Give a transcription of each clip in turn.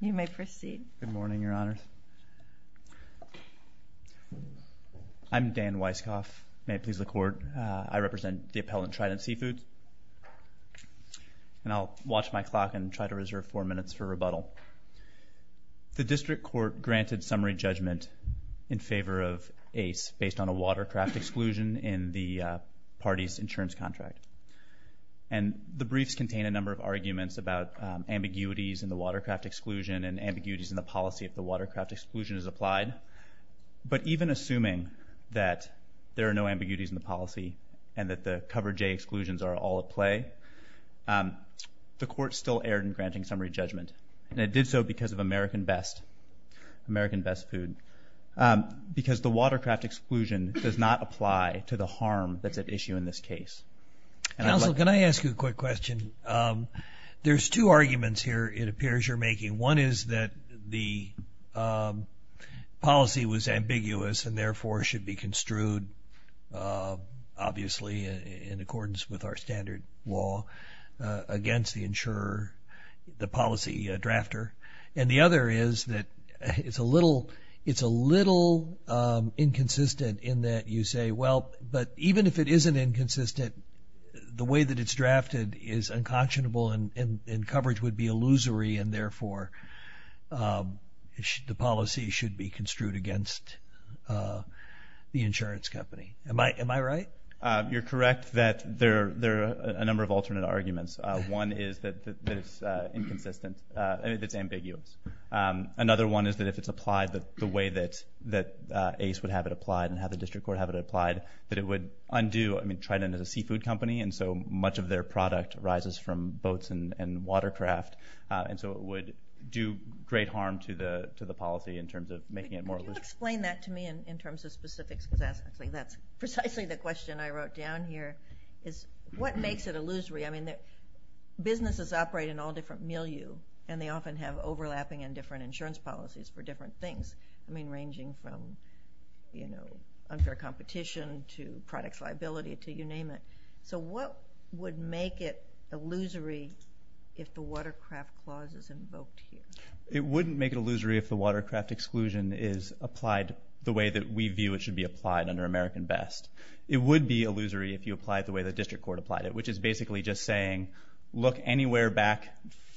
You may proceed. Good morning, Your Honors. I'm Dan Weisskopf. May it please the Court, I represent the appellant Trident Seafoods. And I'll watch my clock and try to reserve four minutes for rebuttal. The District Court granted summary judgment in favor of ACE based on a watercraft exclusion in the party's insurance contract. And the briefs contain a number of arguments about ambiguities in the watercraft exclusion and ambiguities in the policy if the watercraft exclusion is applied. But even assuming that there are no ambiguities in the policy and that the Cover J exclusions are all at play, the Court still erred in granting summary judgment. And it did so because of American Best, American Best Food, because the watercraft exclusion does not apply to the harm that's at issue in this case. Counsel, can I ask you a quick question? There's two arguments here it appears you're making. One is that the policy was ambiguous and therefore should be construed, obviously in accordance with our standard law, against the insurer, the policy drafter. And the other is that it's a little inconsistent in that you say, well, but even if it isn't inconsistent, the way that it's drafted is unconscionable and coverage would be illusory and therefore the policy should be construed against the insurance company. Am I right? You're correct that there are a number of alternate arguments. One is that it's inconsistent, that it's ambiguous. Another one is that if it's applied the way that ACE would have it applied and have the District Court have it applied, that it would undo, I mean Trident is a seafood company and so much of their product rises from boats and watercraft and so it would do great harm to the policy in terms of making it more illusory. Can you explain that to me in terms of specifics? Because that's precisely the question I wrote down here is what makes it illusory? I mean businesses operate in all different milieu and they often have overlapping and different insurance policies for different things. I mean ranging from unfair competition to product liability to you name it. So what would make it illusory if the watercraft clause is invoked here? It wouldn't make it illusory if the watercraft exclusion is applied the way that we view it should be applied under American Best. It would be illusory if you applied the way the District Court applied it, which is basically just saying look anywhere back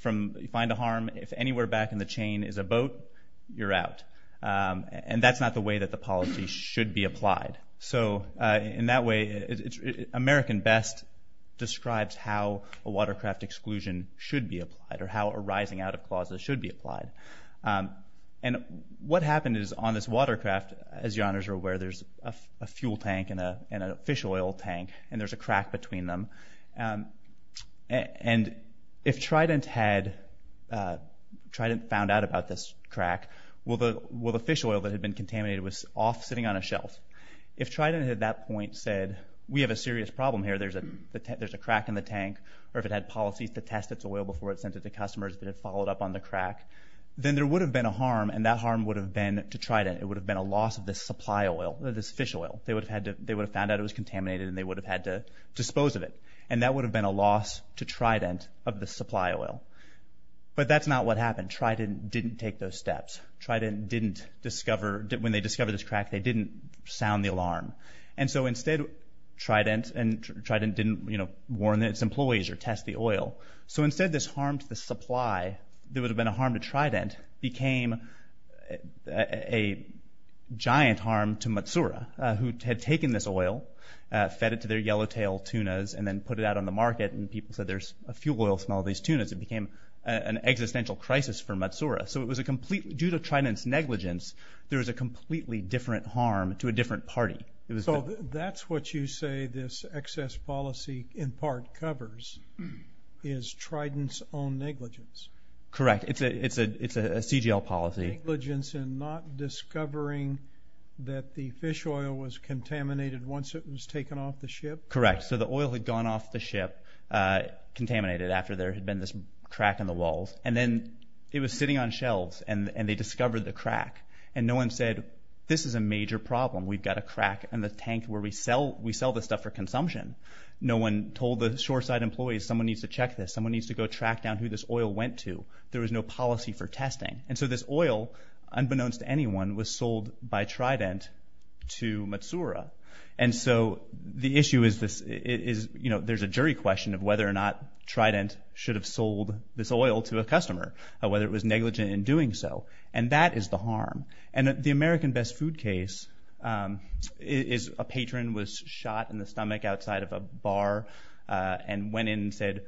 from, find a harm, if anywhere back in the chain is a boat, you're out. And that's not the way that the policy should be applied. So in that way American Best describes how a watercraft exclusion should be applied or how a rising out of clause should be applied. And what happened is on this watercraft, as your honors are aware, there's a fuel tank and a fish oil tank and there's a crack between them. And if Trident had, Trident found out about this crack, well the fish oil that had been contaminated was off sitting on a shelf. If Trident at that point said we have a serious problem here, there's a crack in the tank, or if it had policies to test its oil before it's sent to the customers that had followed up on the crack, then there would have been a harm and that harm would have been to Trident. It would have been a loss of this supply oil, this fish oil. They would have found out it was contaminated and they would have had to dispose of it. That would have been a loss to Trident of the supply oil. But that's not what happened. Trident didn't take those steps. Trident didn't discover, when they discovered this crack, they didn't sound the alarm. And so instead Trident and Trident didn't, you know, warn its employees or test the oil. So instead this harm to the supply that would have been a harm to Trident became a giant harm to Matsura who had taken this oil, fed it to their yellow-tailed tunas, and then put it out on the market. And people said there's a fuel oil smell of these tunas. It became an existential crisis for Matsura. So it was a complete, due to Trident's negligence, there was a completely different harm to a different party. So that's what you say this excess policy in part covers, is Trident's own negligence. It's a CGL policy. Trident's negligence in not discovering that the fish oil was contaminated once it was taken off the ship? Correct. So the oil had gone off the ship, contaminated after there had been this crack in the walls. And then it was sitting on shelves and they discovered the crack. And no one said, this is a major problem. We've got a crack in the tank where we sell this stuff for consumption. No one told the shoreside employees, someone needs to check this. Someone needs to go track down who this oil went to. There was no policy for testing. And so this oil, unbeknownst to anyone, was sold by Trident to Matsura. And so the issue is there's a jury question of whether or not Trident should have sold this oil to a customer, whether it was negligent in doing so. And that is the harm. And the American Best Food case is a patron was shot in the stomach outside of a bar and went in and said,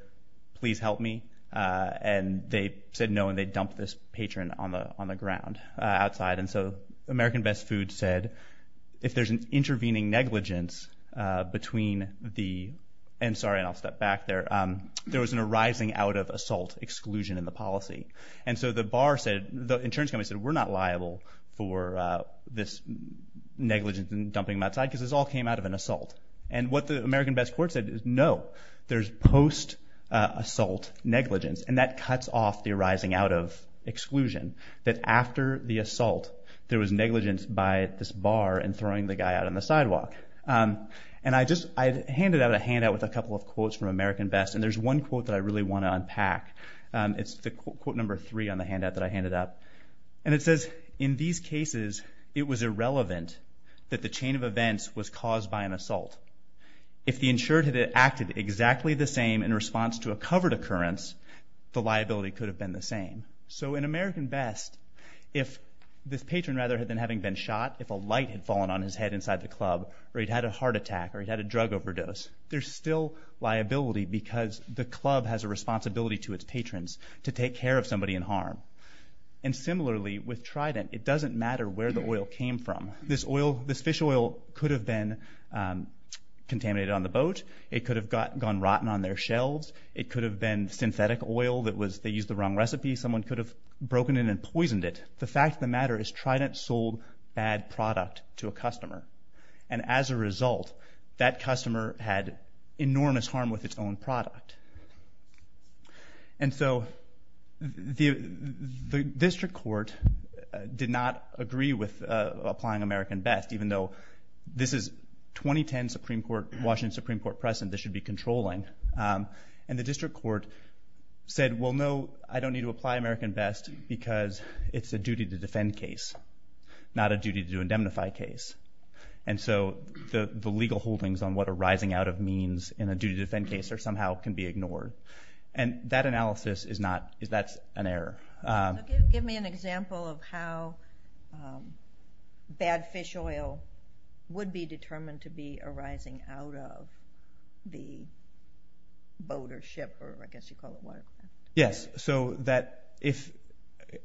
please help me. And they said no and they dumped this patron on the ground outside. And so American Best Food said, if there's an intervening negligence between the, and sorry and I'll step back there, there was an arising out of assault exclusion in the policy. And so the bar said, the insurance company said, we're not liable for this negligence in dumping them outside because this all came out of an assault. And what the American Best court said is no, there's post-assault negligence. And that cuts off the arising out of exclusion. That after the assault, there was negligence by this bar and throwing the guy out on the sidewalk. And I just, I handed out a handout with a couple of quotes from American Best. And there's one quote that I really want to unpack. It's the quote number three on the handout that I handed out. And it says, in these cases, it was irrelevant that the chain of events was caused by an assault. If the insured had acted exactly the same in response to a covered occurrence, the liability could have been the same. So in American Best, if this patron rather than having been shot, if a light had fallen on his head inside the club or he'd had a heart attack or he'd had a drug overdose, there's still liability because the club has a responsibility to its patrons to take care of somebody in harm. And similarly, with Trident, it doesn't matter where the oil came from. This oil, this fish oil could have been contaminated on the boat. It could have gone rotten on their shelves. It could have been synthetic oil that was, they used the wrong recipe. Someone could have broken in and poisoned it. The fact of the matter is Trident sold bad product to a customer. And as a result, that customer had enormous harm with its own product. And so the district court did not agree with applying American Best, even though this is 2010 Supreme Court, Washington Supreme Court precedent. This should be controlling. And the district court said, well, no, I don't need to apply American Best because it's a duty-to-defend case, not a duty-to-indemnify case. And so the legal holdings on what a rising out of means in a duty-to-defend case are somehow can be ignored. And that analysis is not, that's an error. So give me an example of how bad fish oil would be determined to be a rising out of the boat or ship or I guess you call it what? Yes, so that if,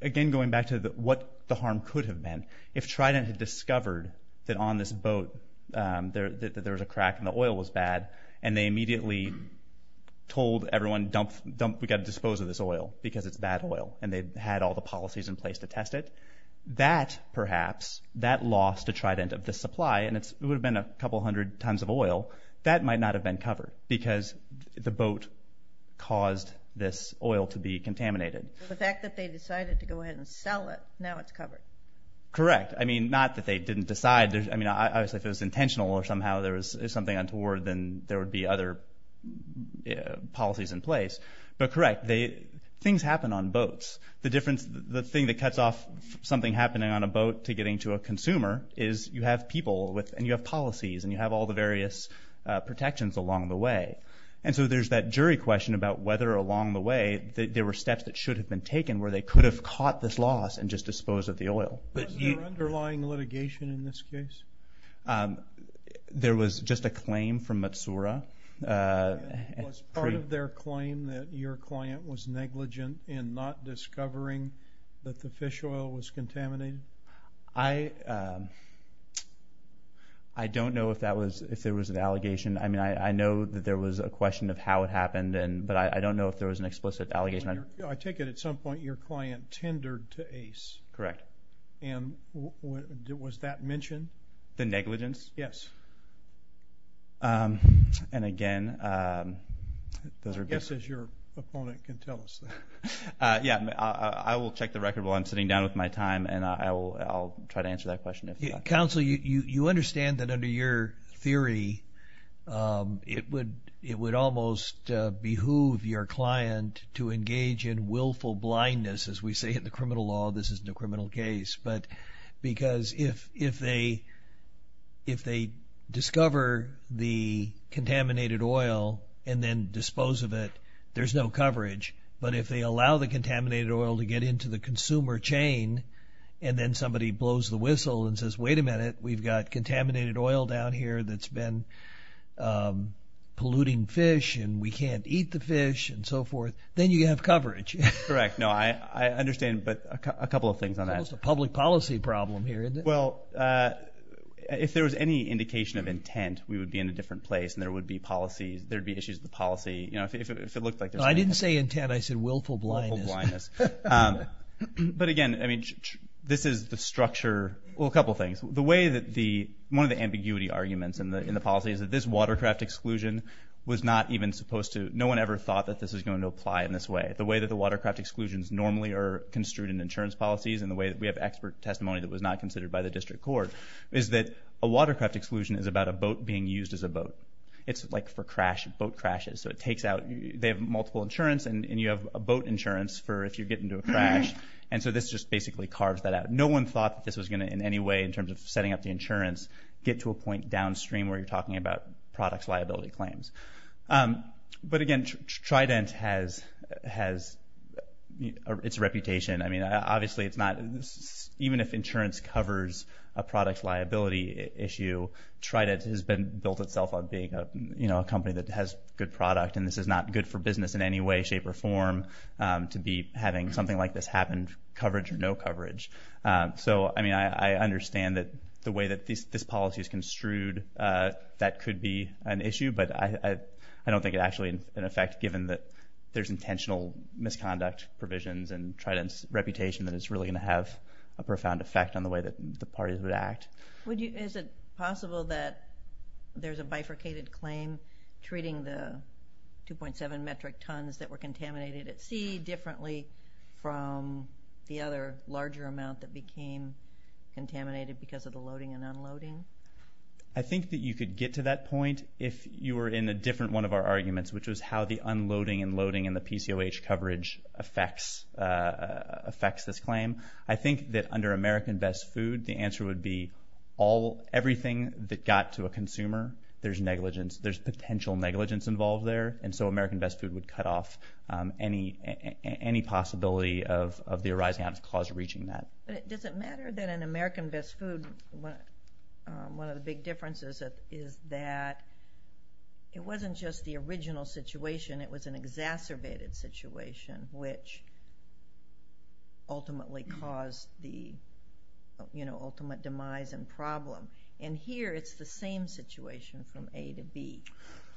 again going back to what the harm could have been, if Trident had discovered that on this boat there was a crack and the oil was bad and they immediately told everyone we've got to dispose of this oil because it's bad oil and they had all the policies in place to test it, that perhaps, that loss to Trident of the supply, and it would have been a couple hundred tons of oil, that might not have been covered because the boat caused this oil to be contaminated. The fact that they decided to go ahead and sell it, now it's covered. Correct. I mean, not that they didn't decide. I mean, obviously if it was intentional or somehow there was something untoward then there would be other policies in place. But correct, things happen on boats. The thing that cuts off something happening on a boat to getting to a consumer is you have people and you have policies and you have all the various protections along the way. And so there's that jury question about whether along the way there were steps that should have been taken where they could have caught this loss and just disposed of the oil. Was there underlying litigation in this case? There was just a claim from Matsura. Was part of their claim that your client was negligent in not discovering that the fish oil was contaminated? I don't know if there was an allegation. I mean, I know that there was a question of how it happened, but I don't know if there was an explicit allegation. I take it at some point your client tendered to Ace. Correct. And was that mentioned? The negligence? Yes. And again, those are... I guess as your opponent can tell us. Yeah, I will check the record while I'm sitting down with my time and I'll try to answer that question if not. Counsel, you understand that under your theory it would almost behoove your client to engage in willful blindness, as we say in the criminal law, this is no criminal case. Because if they discover the contaminated oil and then dispose of it, there's no coverage. But if they allow the contaminated oil to get into the consumer chain and then somebody blows the whistle and says, wait a minute, we've got contaminated oil down here that's been polluting fish and we can't eat the fish and so forth, then you have coverage. Correct. No, I understand, but a couple of things on that. It's almost a public policy problem here, isn't it? Well, if there was any indication of intent, we would be in a different place and there would be issues with the policy. If it looked like there's... I didn't say intent, I said willful blindness. Willful blindness. But again, this is the structure... Well, a couple of things. One of the ambiguity arguments in the policy is that this watercraft exclusion was not even supposed to... No one ever thought that this was going to apply in this way. The way that the watercraft exclusions normally are construed in insurance policies and the way that we have expert testimony that was not considered by the district court is that a watercraft exclusion is about a boat being used as a boat. It's like for crash, boat crashes. So it takes out... They have multiple insurance and you have a boat insurance for if you get into a crash. And so this just basically carves that out. No one thought that this was going to in any way in terms of setting up the insurance get to a point downstream where you're talking about products liability claims. But again, Trident has its reputation. I mean, obviously it's not... Even if insurance covers a product liability issue, Trident has been built itself on being a company that has good product and this is not good for business in any way, shape, or form to be having something like this happen, coverage or no coverage. So, I mean, I understand that the way that this policy is construed, that could be an issue, but I don't think it's actually in effect given that there's intentional misconduct provisions and Trident's reputation that it's really going to have a profound effect on the way that the parties would act. Is it possible that there's a bifurcated claim treating the 2.7 metric tons that were contaminated at sea differently from the other larger amount that became contaminated because of the loading and unloading? I think that you could get to that point if you were in a different one of our arguments, which was how the unloading and loading and the PCOH coverage affects this claim. I think that under American Best Food, the answer would be everything that got to a consumer, there's negligence, there's potential negligence involved there, and so American Best Food would cut off any possibility of the arising out-of-cause reaching that. But does it matter that in American Best Food, one of the big differences is that it wasn't just the original situation, it was an exacerbated situation which ultimately caused the ultimate demise and problem. And here it's the same situation from A to B.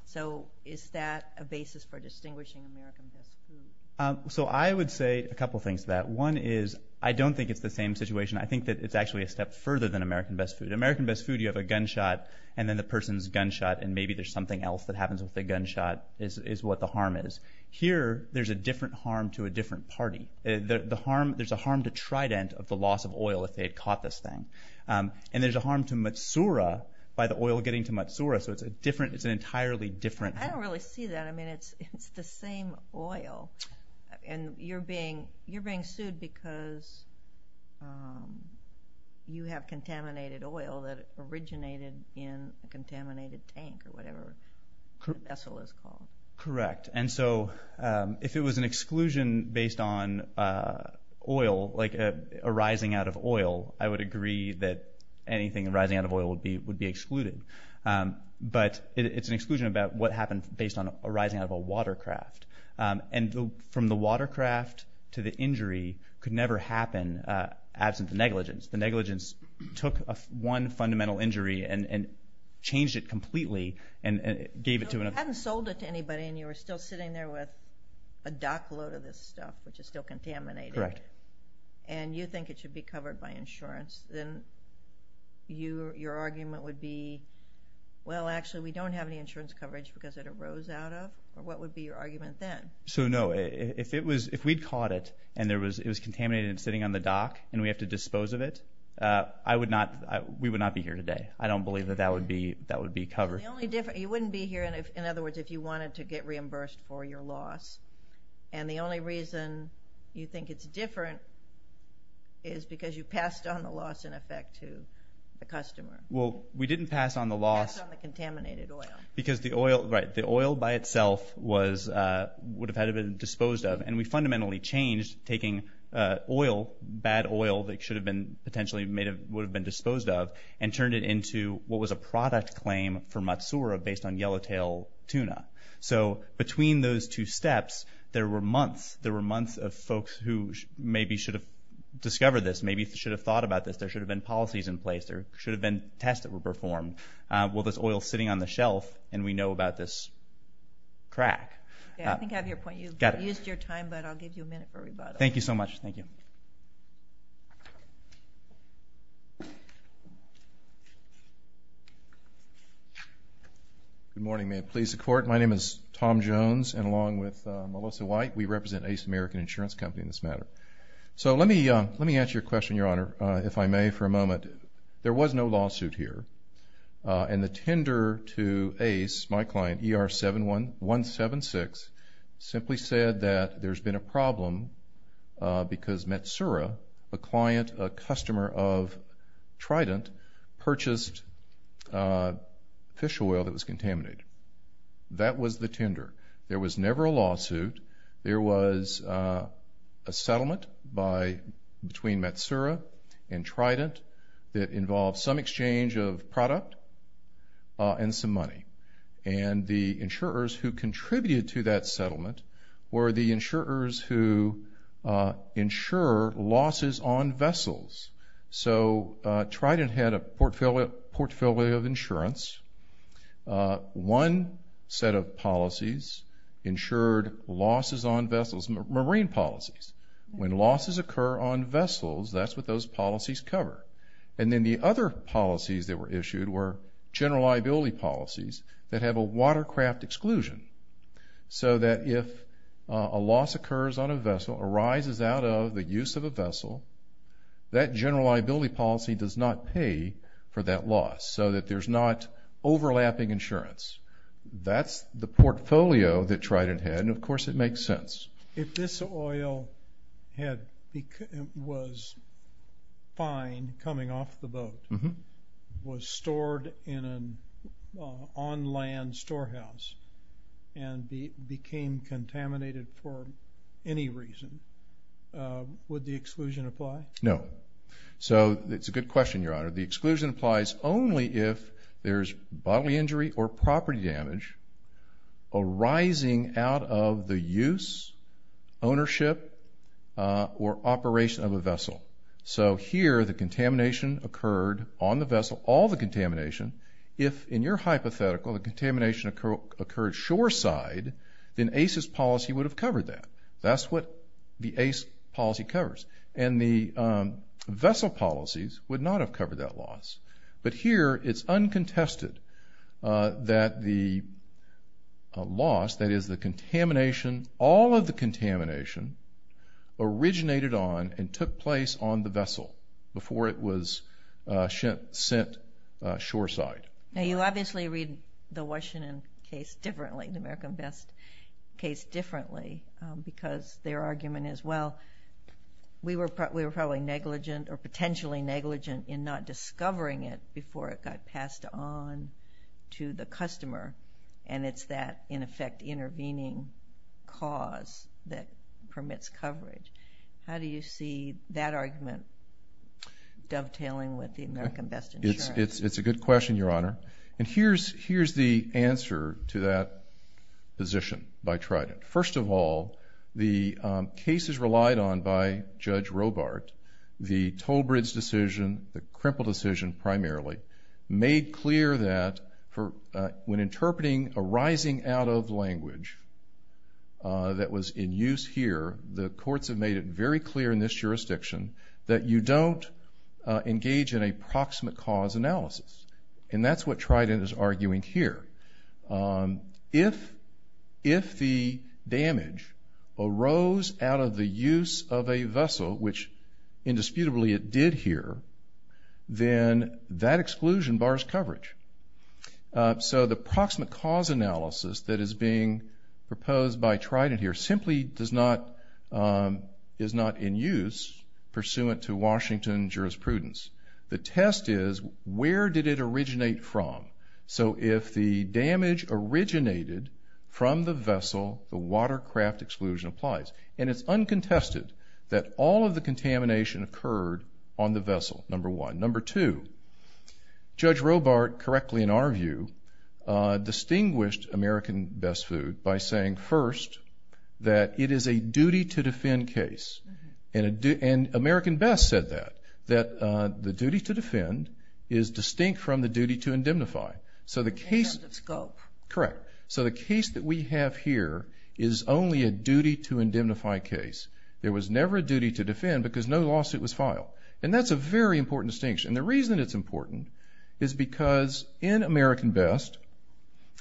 So is that a basis for distinguishing American Best Food? So I would say a couple things to that. One is I don't think it's the same situation. I think that it's actually a step further than American Best Food. In American Best Food you have a gunshot and then the person's gunshot and maybe there's something else that happens with the gunshot is what the harm is. Here there's a different harm to a different party. There's a harm to Trident of the loss of oil if they had caught this thing. And there's a harm to Matsura by the oil getting to Matsura, so it's an entirely different... I don't really see that. I mean, it's the same oil. And you're being sued because you have contaminated oil that originated in a contaminated tank or whatever the vessel is called. Correct. And so if it was an exclusion based on oil, like a rising out of oil, I would agree that anything rising out of oil would be excluded. But it's an exclusion about what happened based on a rising out of a watercraft. And from the watercraft to the injury could never happen absent the negligence. The negligence took one fundamental injury and changed it completely and gave it to another... So if you hadn't sold it to anybody and you were still sitting there with a dockload of this stuff which is still contaminated... Correct. ...and you think it should be covered by insurance, then your argument would be, well, actually we don't have any insurance coverage because it arose out of... What would be your argument then? So, no, if we'd caught it and it was contaminated and sitting on the dock and we have to dispose of it, we would not be here today. I don't believe that that would be covered. You wouldn't be here, in other words, if you wanted to get reimbursed for your loss. And the only reason you think it's different is because you passed on the loss, in effect, to the customer. Well, we didn't pass on the loss... Pass on the contaminated oil. Because the oil, right, the oil by itself would have had to be disposed of, and we fundamentally changed taking oil, bad oil, that should have been potentially made of, would have been disposed of, and turned it into what was a product claim for Matsuura based on yellowtail tuna. So between those two steps, there were months, there were months of folks who maybe should have discovered this, maybe should have thought about this, there should have been policies in place, there should have been tests that were performed. Well, there's oil sitting on the shelf, and we know about this crack. Yeah, I think I have your point. You've used your time, but I'll give you a minute for rebuttal. Thank you so much. Thank you. Good morning. May it please the Court. My name is Tom Jones, and along with Melissa White, we represent Ace American Insurance Company in this matter. There was no lawsuit here, and the tender to Ace, my client, ER-176, simply said that there's been a problem because Matsuura, a client, a customer of Trident, purchased fish oil that was contaminated. That was the tender. There was never a lawsuit. There was a settlement between Matsuura and Trident that involved some exchange of product and some money, and the insurers who contributed to that settlement were the insurers who insure losses on vessels. So Trident had a portfolio of insurance. One set of policies insured losses on vessels, marine policies. When losses occur on vessels, that's what those policies cover, and then the other policies that were issued were general liability policies that have a watercraft exclusion so that if a loss occurs on a vessel, arises out of the use of a vessel, that general liability policy does not pay for that loss so that there's not overlapping insurance. That's the portfolio that Trident had, and of course it makes sense. If this oil was fine coming off the boat, was stored in an on-land storehouse, and became contaminated for any reason, would the exclusion apply? So it's a good question, Your Honor. The exclusion applies only if there's bodily injury or property damage arising out of the use, ownership, or operation of a vessel. So here the contamination occurred on the vessel, all the contamination. If, in your hypothetical, the contamination occurred shoreside, then ACE's policy would have covered that. That's what the ACE policy covers, and the vessel policies would not have covered that loss. But here it's uncontested that the loss, that is the contamination, all of the contamination, originated on and took place on the vessel before it was sent shoreside. Now you obviously read the Washington case differently, the American Vest case differently, because their argument is, well, we were probably negligent or potentially negligent in not discovering it before it got passed on to the customer, and it's that, in effect, intervening cause that permits coverage. How do you see that argument dovetailing with the American Vest insurance? It's a good question, Your Honor. And here's the answer to that position by Trident. First of all, the cases relied on by Judge Robart, the Tolbridge decision, the Krimple decision primarily, made clear that when interpreting a rising-out-of language that was in use here, the courts have made it very clear in this jurisdiction that you don't engage in a proximate cause analysis. And that's what Trident is arguing here. If the damage arose out of the use of a vessel, which indisputably it did here, then that exclusion bars coverage. So the proximate cause analysis that is being proposed by Trident here simply is not in use pursuant to Washington jurisprudence. The test is, where did it originate from? So if the damage originated from the vessel, the watercraft exclusion applies. And it's uncontested that all of the contamination occurred on the vessel, number one. Number two, Judge Robart, correctly in our view, distinguished American Vest food by saying, first, that it is a duty-to-defend case. And American Vest said that, that the duty-to-defend is distinct from the duty-to-indemnify. Indemnify of scope. Correct. So the case that we have here is only a duty-to-indemnify case. There was never a duty-to-defend because no lawsuit was filed. And that's a very important distinction. And the reason it's important is because in American Vest,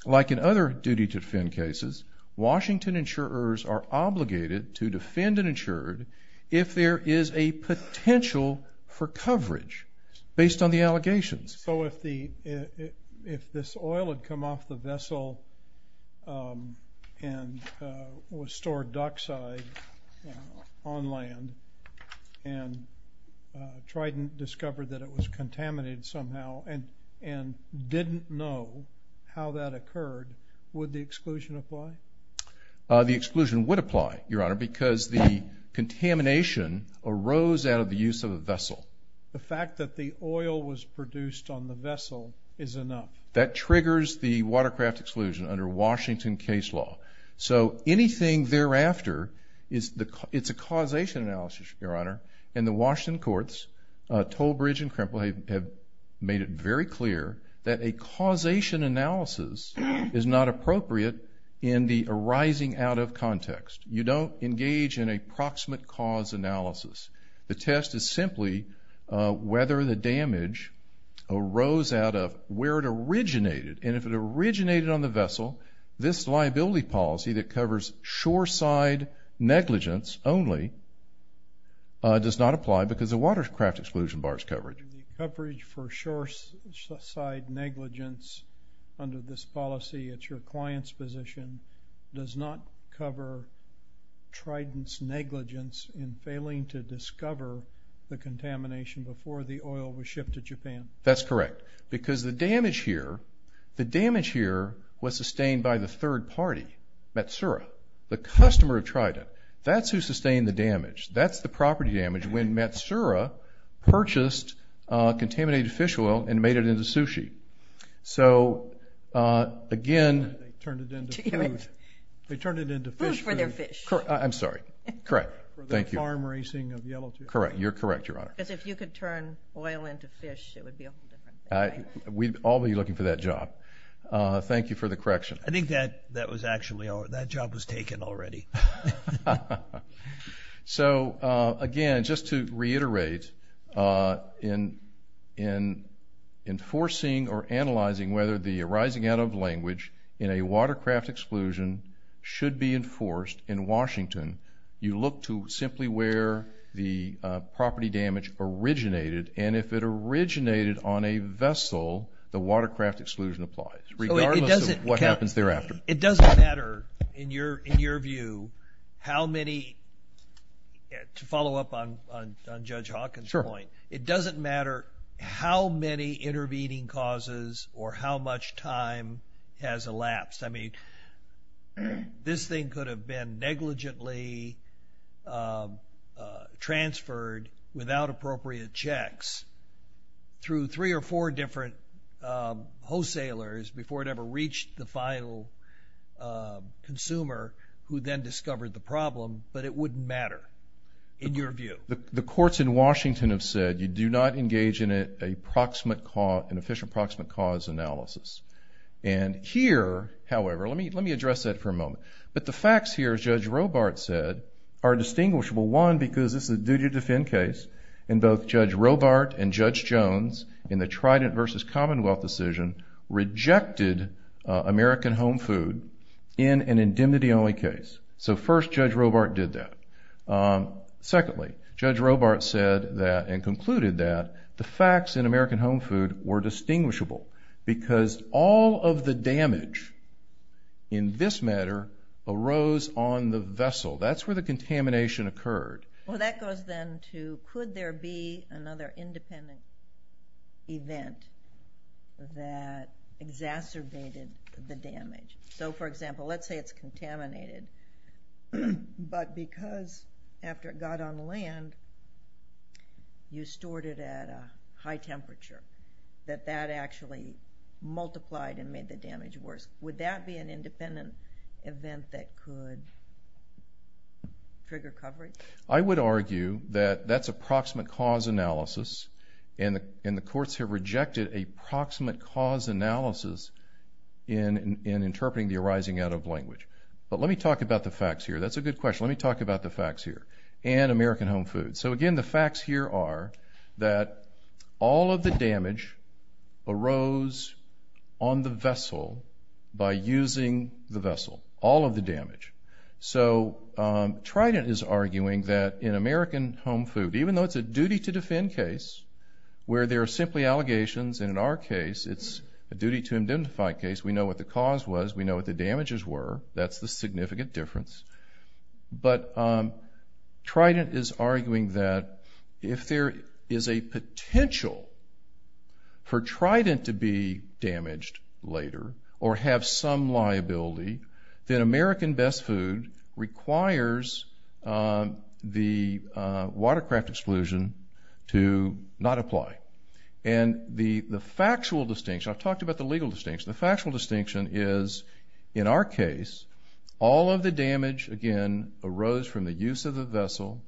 like in other duty-to-defend cases, Washington insurers are obligated to defend an insurer if there is a potential for coverage based on the allegations. So if this oil had come off the vessel and was stored dockside on land and Trident discovered that it was contaminated somehow and didn't know how that occurred, would the exclusion apply? The exclusion would apply, Your Honor, because the contamination arose out of the use of a vessel. The fact that the oil was produced on the vessel is enough. That triggers the watercraft exclusion under Washington case law. So anything thereafter, it's a causation analysis, Your Honor. And the Washington courts, Toll Bridge and Krimple, have made it very clear that a causation analysis is not appropriate in the arising out of context. You don't engage in a proximate cause analysis. The test is simply whether the damage arose out of where it originated. And if it originated on the vessel, this liability policy that covers shore-side negligence only does not apply because the watercraft exclusion bars coverage. The coverage for shore-side negligence under this policy at your client's position does not cover Trident's negligence in failing to discover the contamination before the oil was shipped to Japan. That's correct, because the damage here was sustained by the third party, Matsura, the customer of Trident. That's who sustained the damage. That's the property damage when Matsura purchased contaminated fish oil and made it into sushi. So, again... They turned it into food. They turned it into fish food. Food for their fish. I'm sorry. Correct. For their farm racing of yellowtail. Correct. You're correct, Your Honor. Because if you could turn oil into fish, it would be a whole different thing. We'd all be looking for that job. Thank you for the correction. I think that job was taken already. So, again, just to reiterate, in enforcing or analyzing whether the arising out of language in a watercraft exclusion should be enforced in Washington, you look to simply where the property damage originated, and if it originated on a vessel, the watercraft exclusion applies, regardless of what happens thereafter. It doesn't matter, in your view, how many... To follow up on Judge Hawkins' point, it doesn't matter how many intervening causes or how much time has elapsed. I mean, this thing could have been negligently transferred without appropriate checks through three or four different wholesalers before it ever reached the final consumer, who then discovered the problem, but it wouldn't matter, in your view. The courts in Washington have said, you do not engage in an efficient proximate cause analysis. And here, however, let me address that for a moment. But the facts here, as Judge Robart said, are distinguishable. One, because this is a duty to defend case, and both Judge Robart and Judge Jones in the Trident v. Commonwealth decision rejected American home food in an indemnity-only case. So first, Judge Robart did that. Secondly, Judge Robart said that, and concluded that, the facts in American home food were distinguishable because all of the damage in this matter arose on the vessel. That's where the contamination occurred. Well, that goes then to, could there be another independent event that exacerbated the damage? So, for example, let's say it's contaminated, but because after it got on land, you stored it at a high temperature, that that actually multiplied and made the damage worse. Would that be an independent event that could trigger coverage? I would argue that that's approximate cause analysis, and the courts have rejected a proximate cause analysis in interpreting the arising out of language. But let me talk about the facts here. That's a good question. Let me talk about the facts here and American home food. So, again, the facts here are that all of the damage arose on the vessel by using the vessel, all of the damage. So Trident is arguing that in American home food, even though it's a duty-to-defend case where there are simply allegations, and in our case it's a duty-to-indentify case, we know what the cause was, we know what the damages were, that's the significant difference. But Trident is arguing that if there is a potential for Trident to be damaged later or have some liability, then American Best Food requires the watercraft exclusion to not apply. And the factual distinction, I've talked about the legal distinction, the factual distinction is, in our case, all of the damage, again, arose from the use of the vessel.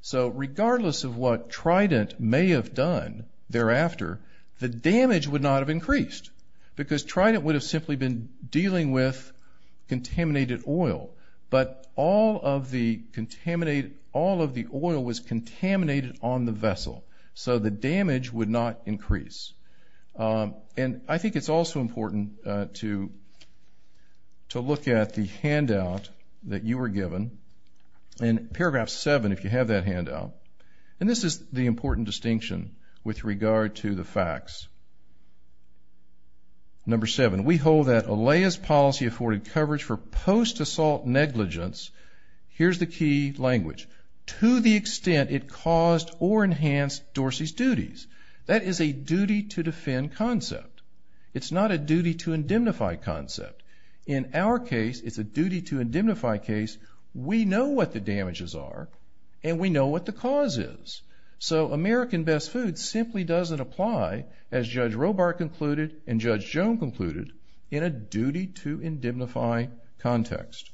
So regardless of what Trident may have done thereafter, the damage would not have increased because Trident would have simply been dealing with contaminated oil, but all of the oil was contaminated on the vessel, so the damage would not increase. And I think it's also important to look at the handout that you were given, and this is the important distinction with regard to the facts. Number seven, we hold that ALEIA's policy afforded coverage for post-assault negligence, here's the key language, to the extent it caused or enhanced Dorsey's duties. That is a duty-to-defend concept. It's not a duty-to-indentify concept. In our case, it's a duty-to-indentify case. We know what the damages are, and we know what the cause is. So American Best Foods simply doesn't apply, as Judge Robart concluded and Judge Joan concluded, in a duty-to-indentify context.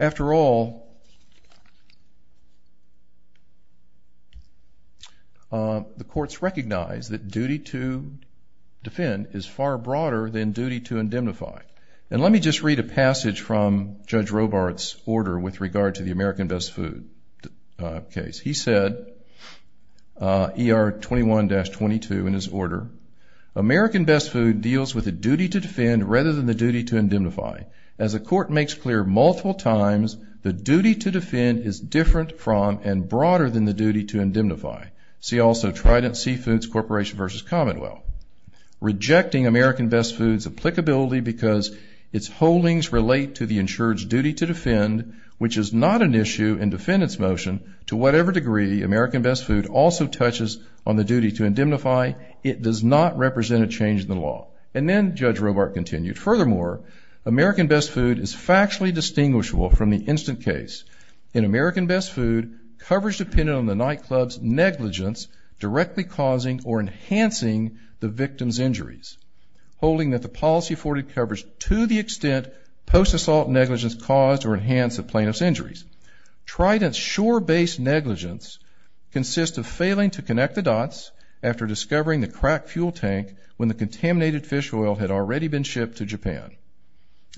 After all, the courts recognize that duty-to-defend is far broader than duty-to-indentify. And let me just read a passage from Judge Robart's order with regard to the American Best Food case. He said, ER 21-22 in his order, American Best Food deals with a duty-to-defend rather than the duty-to-indentify. As the court makes clear multiple times, the duty-to-defend is different from and broader than the duty-to-indentify. See also Trident Seafoods Corporation v. Commonwealth. Rejecting American Best Food's applicability because its holdings relate to the insured's duty to defend, which is not an issue in defendant's motion, to whatever degree American Best Food also touches on the duty-to-indentify, it does not represent a change in the law. And then Judge Robart continued, furthermore, American Best Food is factually distinguishable from the instant case. In American Best Food, coverage depended on the nightclub's negligence directly causing or enhancing the victim's injuries, holding that the policy afforded coverage to the extent post-assault negligence caused or enhanced the plaintiff's injuries. Trident's shore-based negligence consists of failing to connect the dots after discovering the cracked fuel tank when the contaminated fish oil had already been shipped to Japan,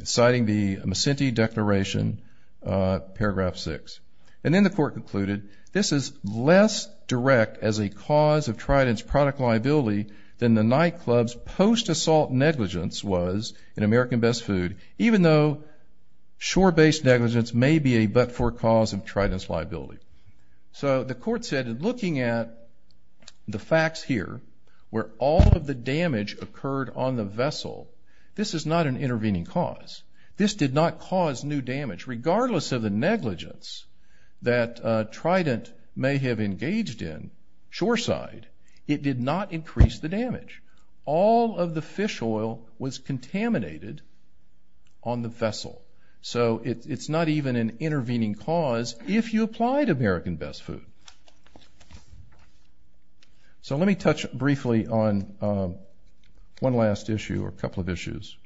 citing the Macinty Declaration, Paragraph 6. And then the court concluded, this is less direct as a cause of Trident's product liability than the nightclub's post-assault negligence was in American Best Food, even though shore-based negligence may be a but-for cause of Trident's liability. So the court said, looking at the facts here, where all of the damage occurred on the vessel, this is not an intervening cause. This did not cause new damage. Regardless of the negligence that Trident may have engaged in shoreside, it did not increase the damage. All of the fish oil was contaminated on the vessel. So it's not even an intervening cause if you applied American Best Food. So let me touch briefly on one last issue or a couple of issues.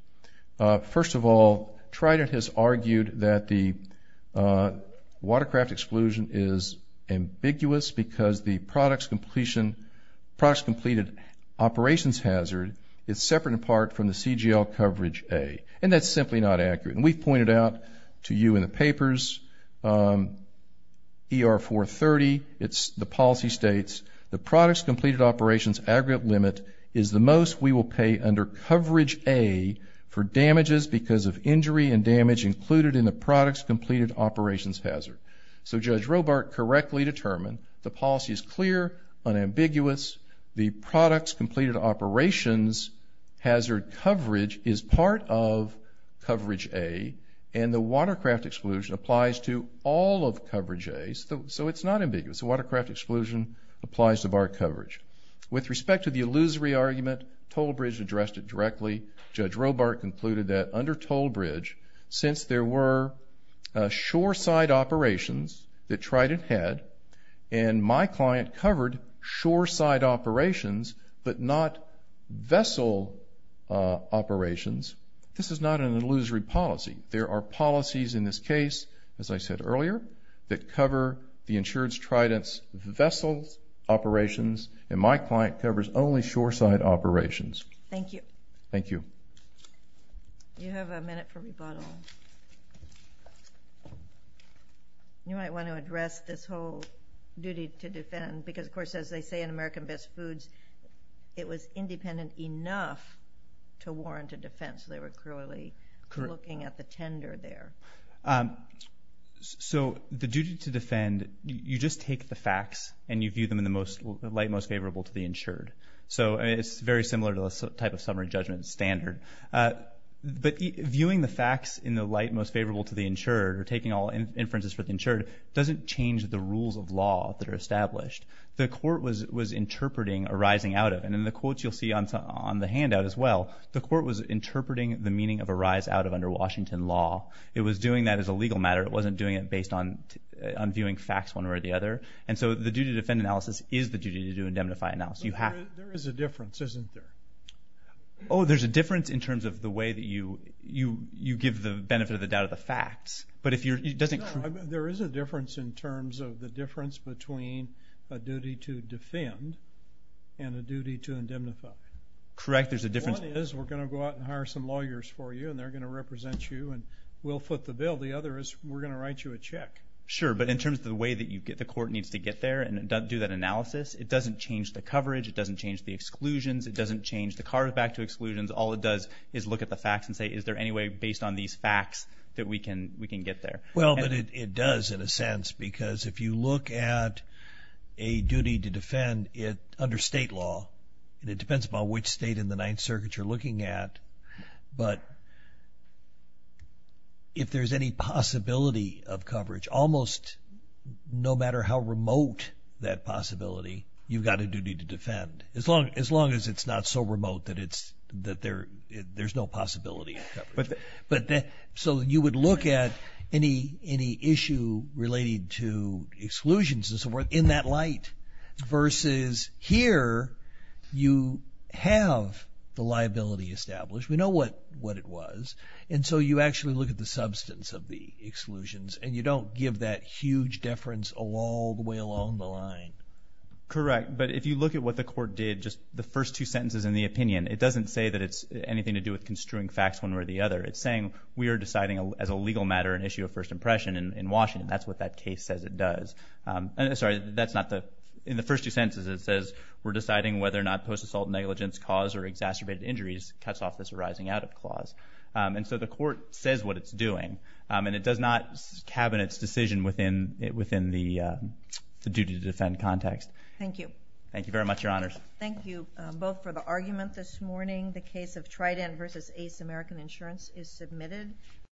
First of all, Trident has argued that the watercraft exclusion is ambiguous because the products completed operations hazard is separate in part from the CGL coverage A, and that's simply not accurate. And we've pointed out to you in the papers, ER 430, the policy states, the products completed operations aggregate limit is the most we will pay under coverage A for damages because of injury and damage included in the products completed operations hazard. So Judge Robart correctly determined the policy is clear, unambiguous. The products completed operations hazard coverage is part of coverage A, and the watercraft exclusion applies to all of coverage A. So it's not ambiguous. The watercraft exclusion applies to BART coverage. With respect to the illusory argument, Toll Bridge addressed it directly. Judge Robart concluded that under Toll Bridge, since there were shore-side operations that Trident had and my client covered shore-side operations but not vessel operations, this is not an illusory policy. There are policies in this case, as I said earlier, that cover the insurance Trident's vessel operations, and my client covers only shore-side operations. Thank you. Thank you. You have a minute for rebuttal. You might want to address this whole duty to defend because, of course, as they say in American Best Foods, it was independent enough to warrant a defense. They were clearly looking at the tender there. So the duty to defend, you just take the facts and you view them in the light most favorable to the insured. So it's very similar to a type of summary judgment standard. But viewing the facts in the light most favorable to the insured or taking all inferences for the insured doesn't change the rules of law that are established. The court was interpreting arising out of, and in the quotes you'll see on the handout as well, the court was interpreting the meaning of arise out of under Washington law. It was doing that as a legal matter. It wasn't doing it based on viewing facts one way or the other. And so the duty to defend analysis is the duty to do indemnify analysis. There is a difference, isn't there? Oh, there's a difference in terms of the way that you give the benefit of the doubt of the facts. No, there is a difference in terms of the difference between a duty to defend and a duty to indemnify. Correct. One is we're going to go out and hire some lawyers for you, and they're going to represent you, and we'll foot the bill. The other is we're going to write you a check. Sure, but in terms of the way that the court needs to get there and do that analysis, it doesn't change the coverage. It doesn't change the exclusions. It doesn't change the card back to exclusions. All it does is look at the facts and say, is there any way based on these facts that we can get there? Well, it does in a sense because if you look at a duty to defend under state law, and it depends upon which state in the Ninth Circuit you're looking at, but if there's any possibility of coverage, almost no matter how remote that possibility, you've got a duty to defend, as long as it's not so remote that there's no possibility of coverage. So you would look at any issue related to exclusions in that light versus here you have the liability established. We know what it was, and so you actually look at the substance of the exclusions, and you don't give that huge deference all the way along the line. Correct, but if you look at what the court did, just the first two sentences in the opinion, it doesn't say that it's anything to do with construing facts one way or the other. It's saying we are deciding as a legal matter an issue of first impression in Washington. That's what that case says it does. In the first two sentences it says, we're deciding whether or not post-assault negligence cause or exacerbated injuries cuts off this arising out of clause. And so the court says what it's doing, and it does not cabinet's decision within the duty to defend context. Thank you. Thank you very much, Your Honors. Thank you both for the argument this morning. The case of Trident v. Ace American Insurance is submitted.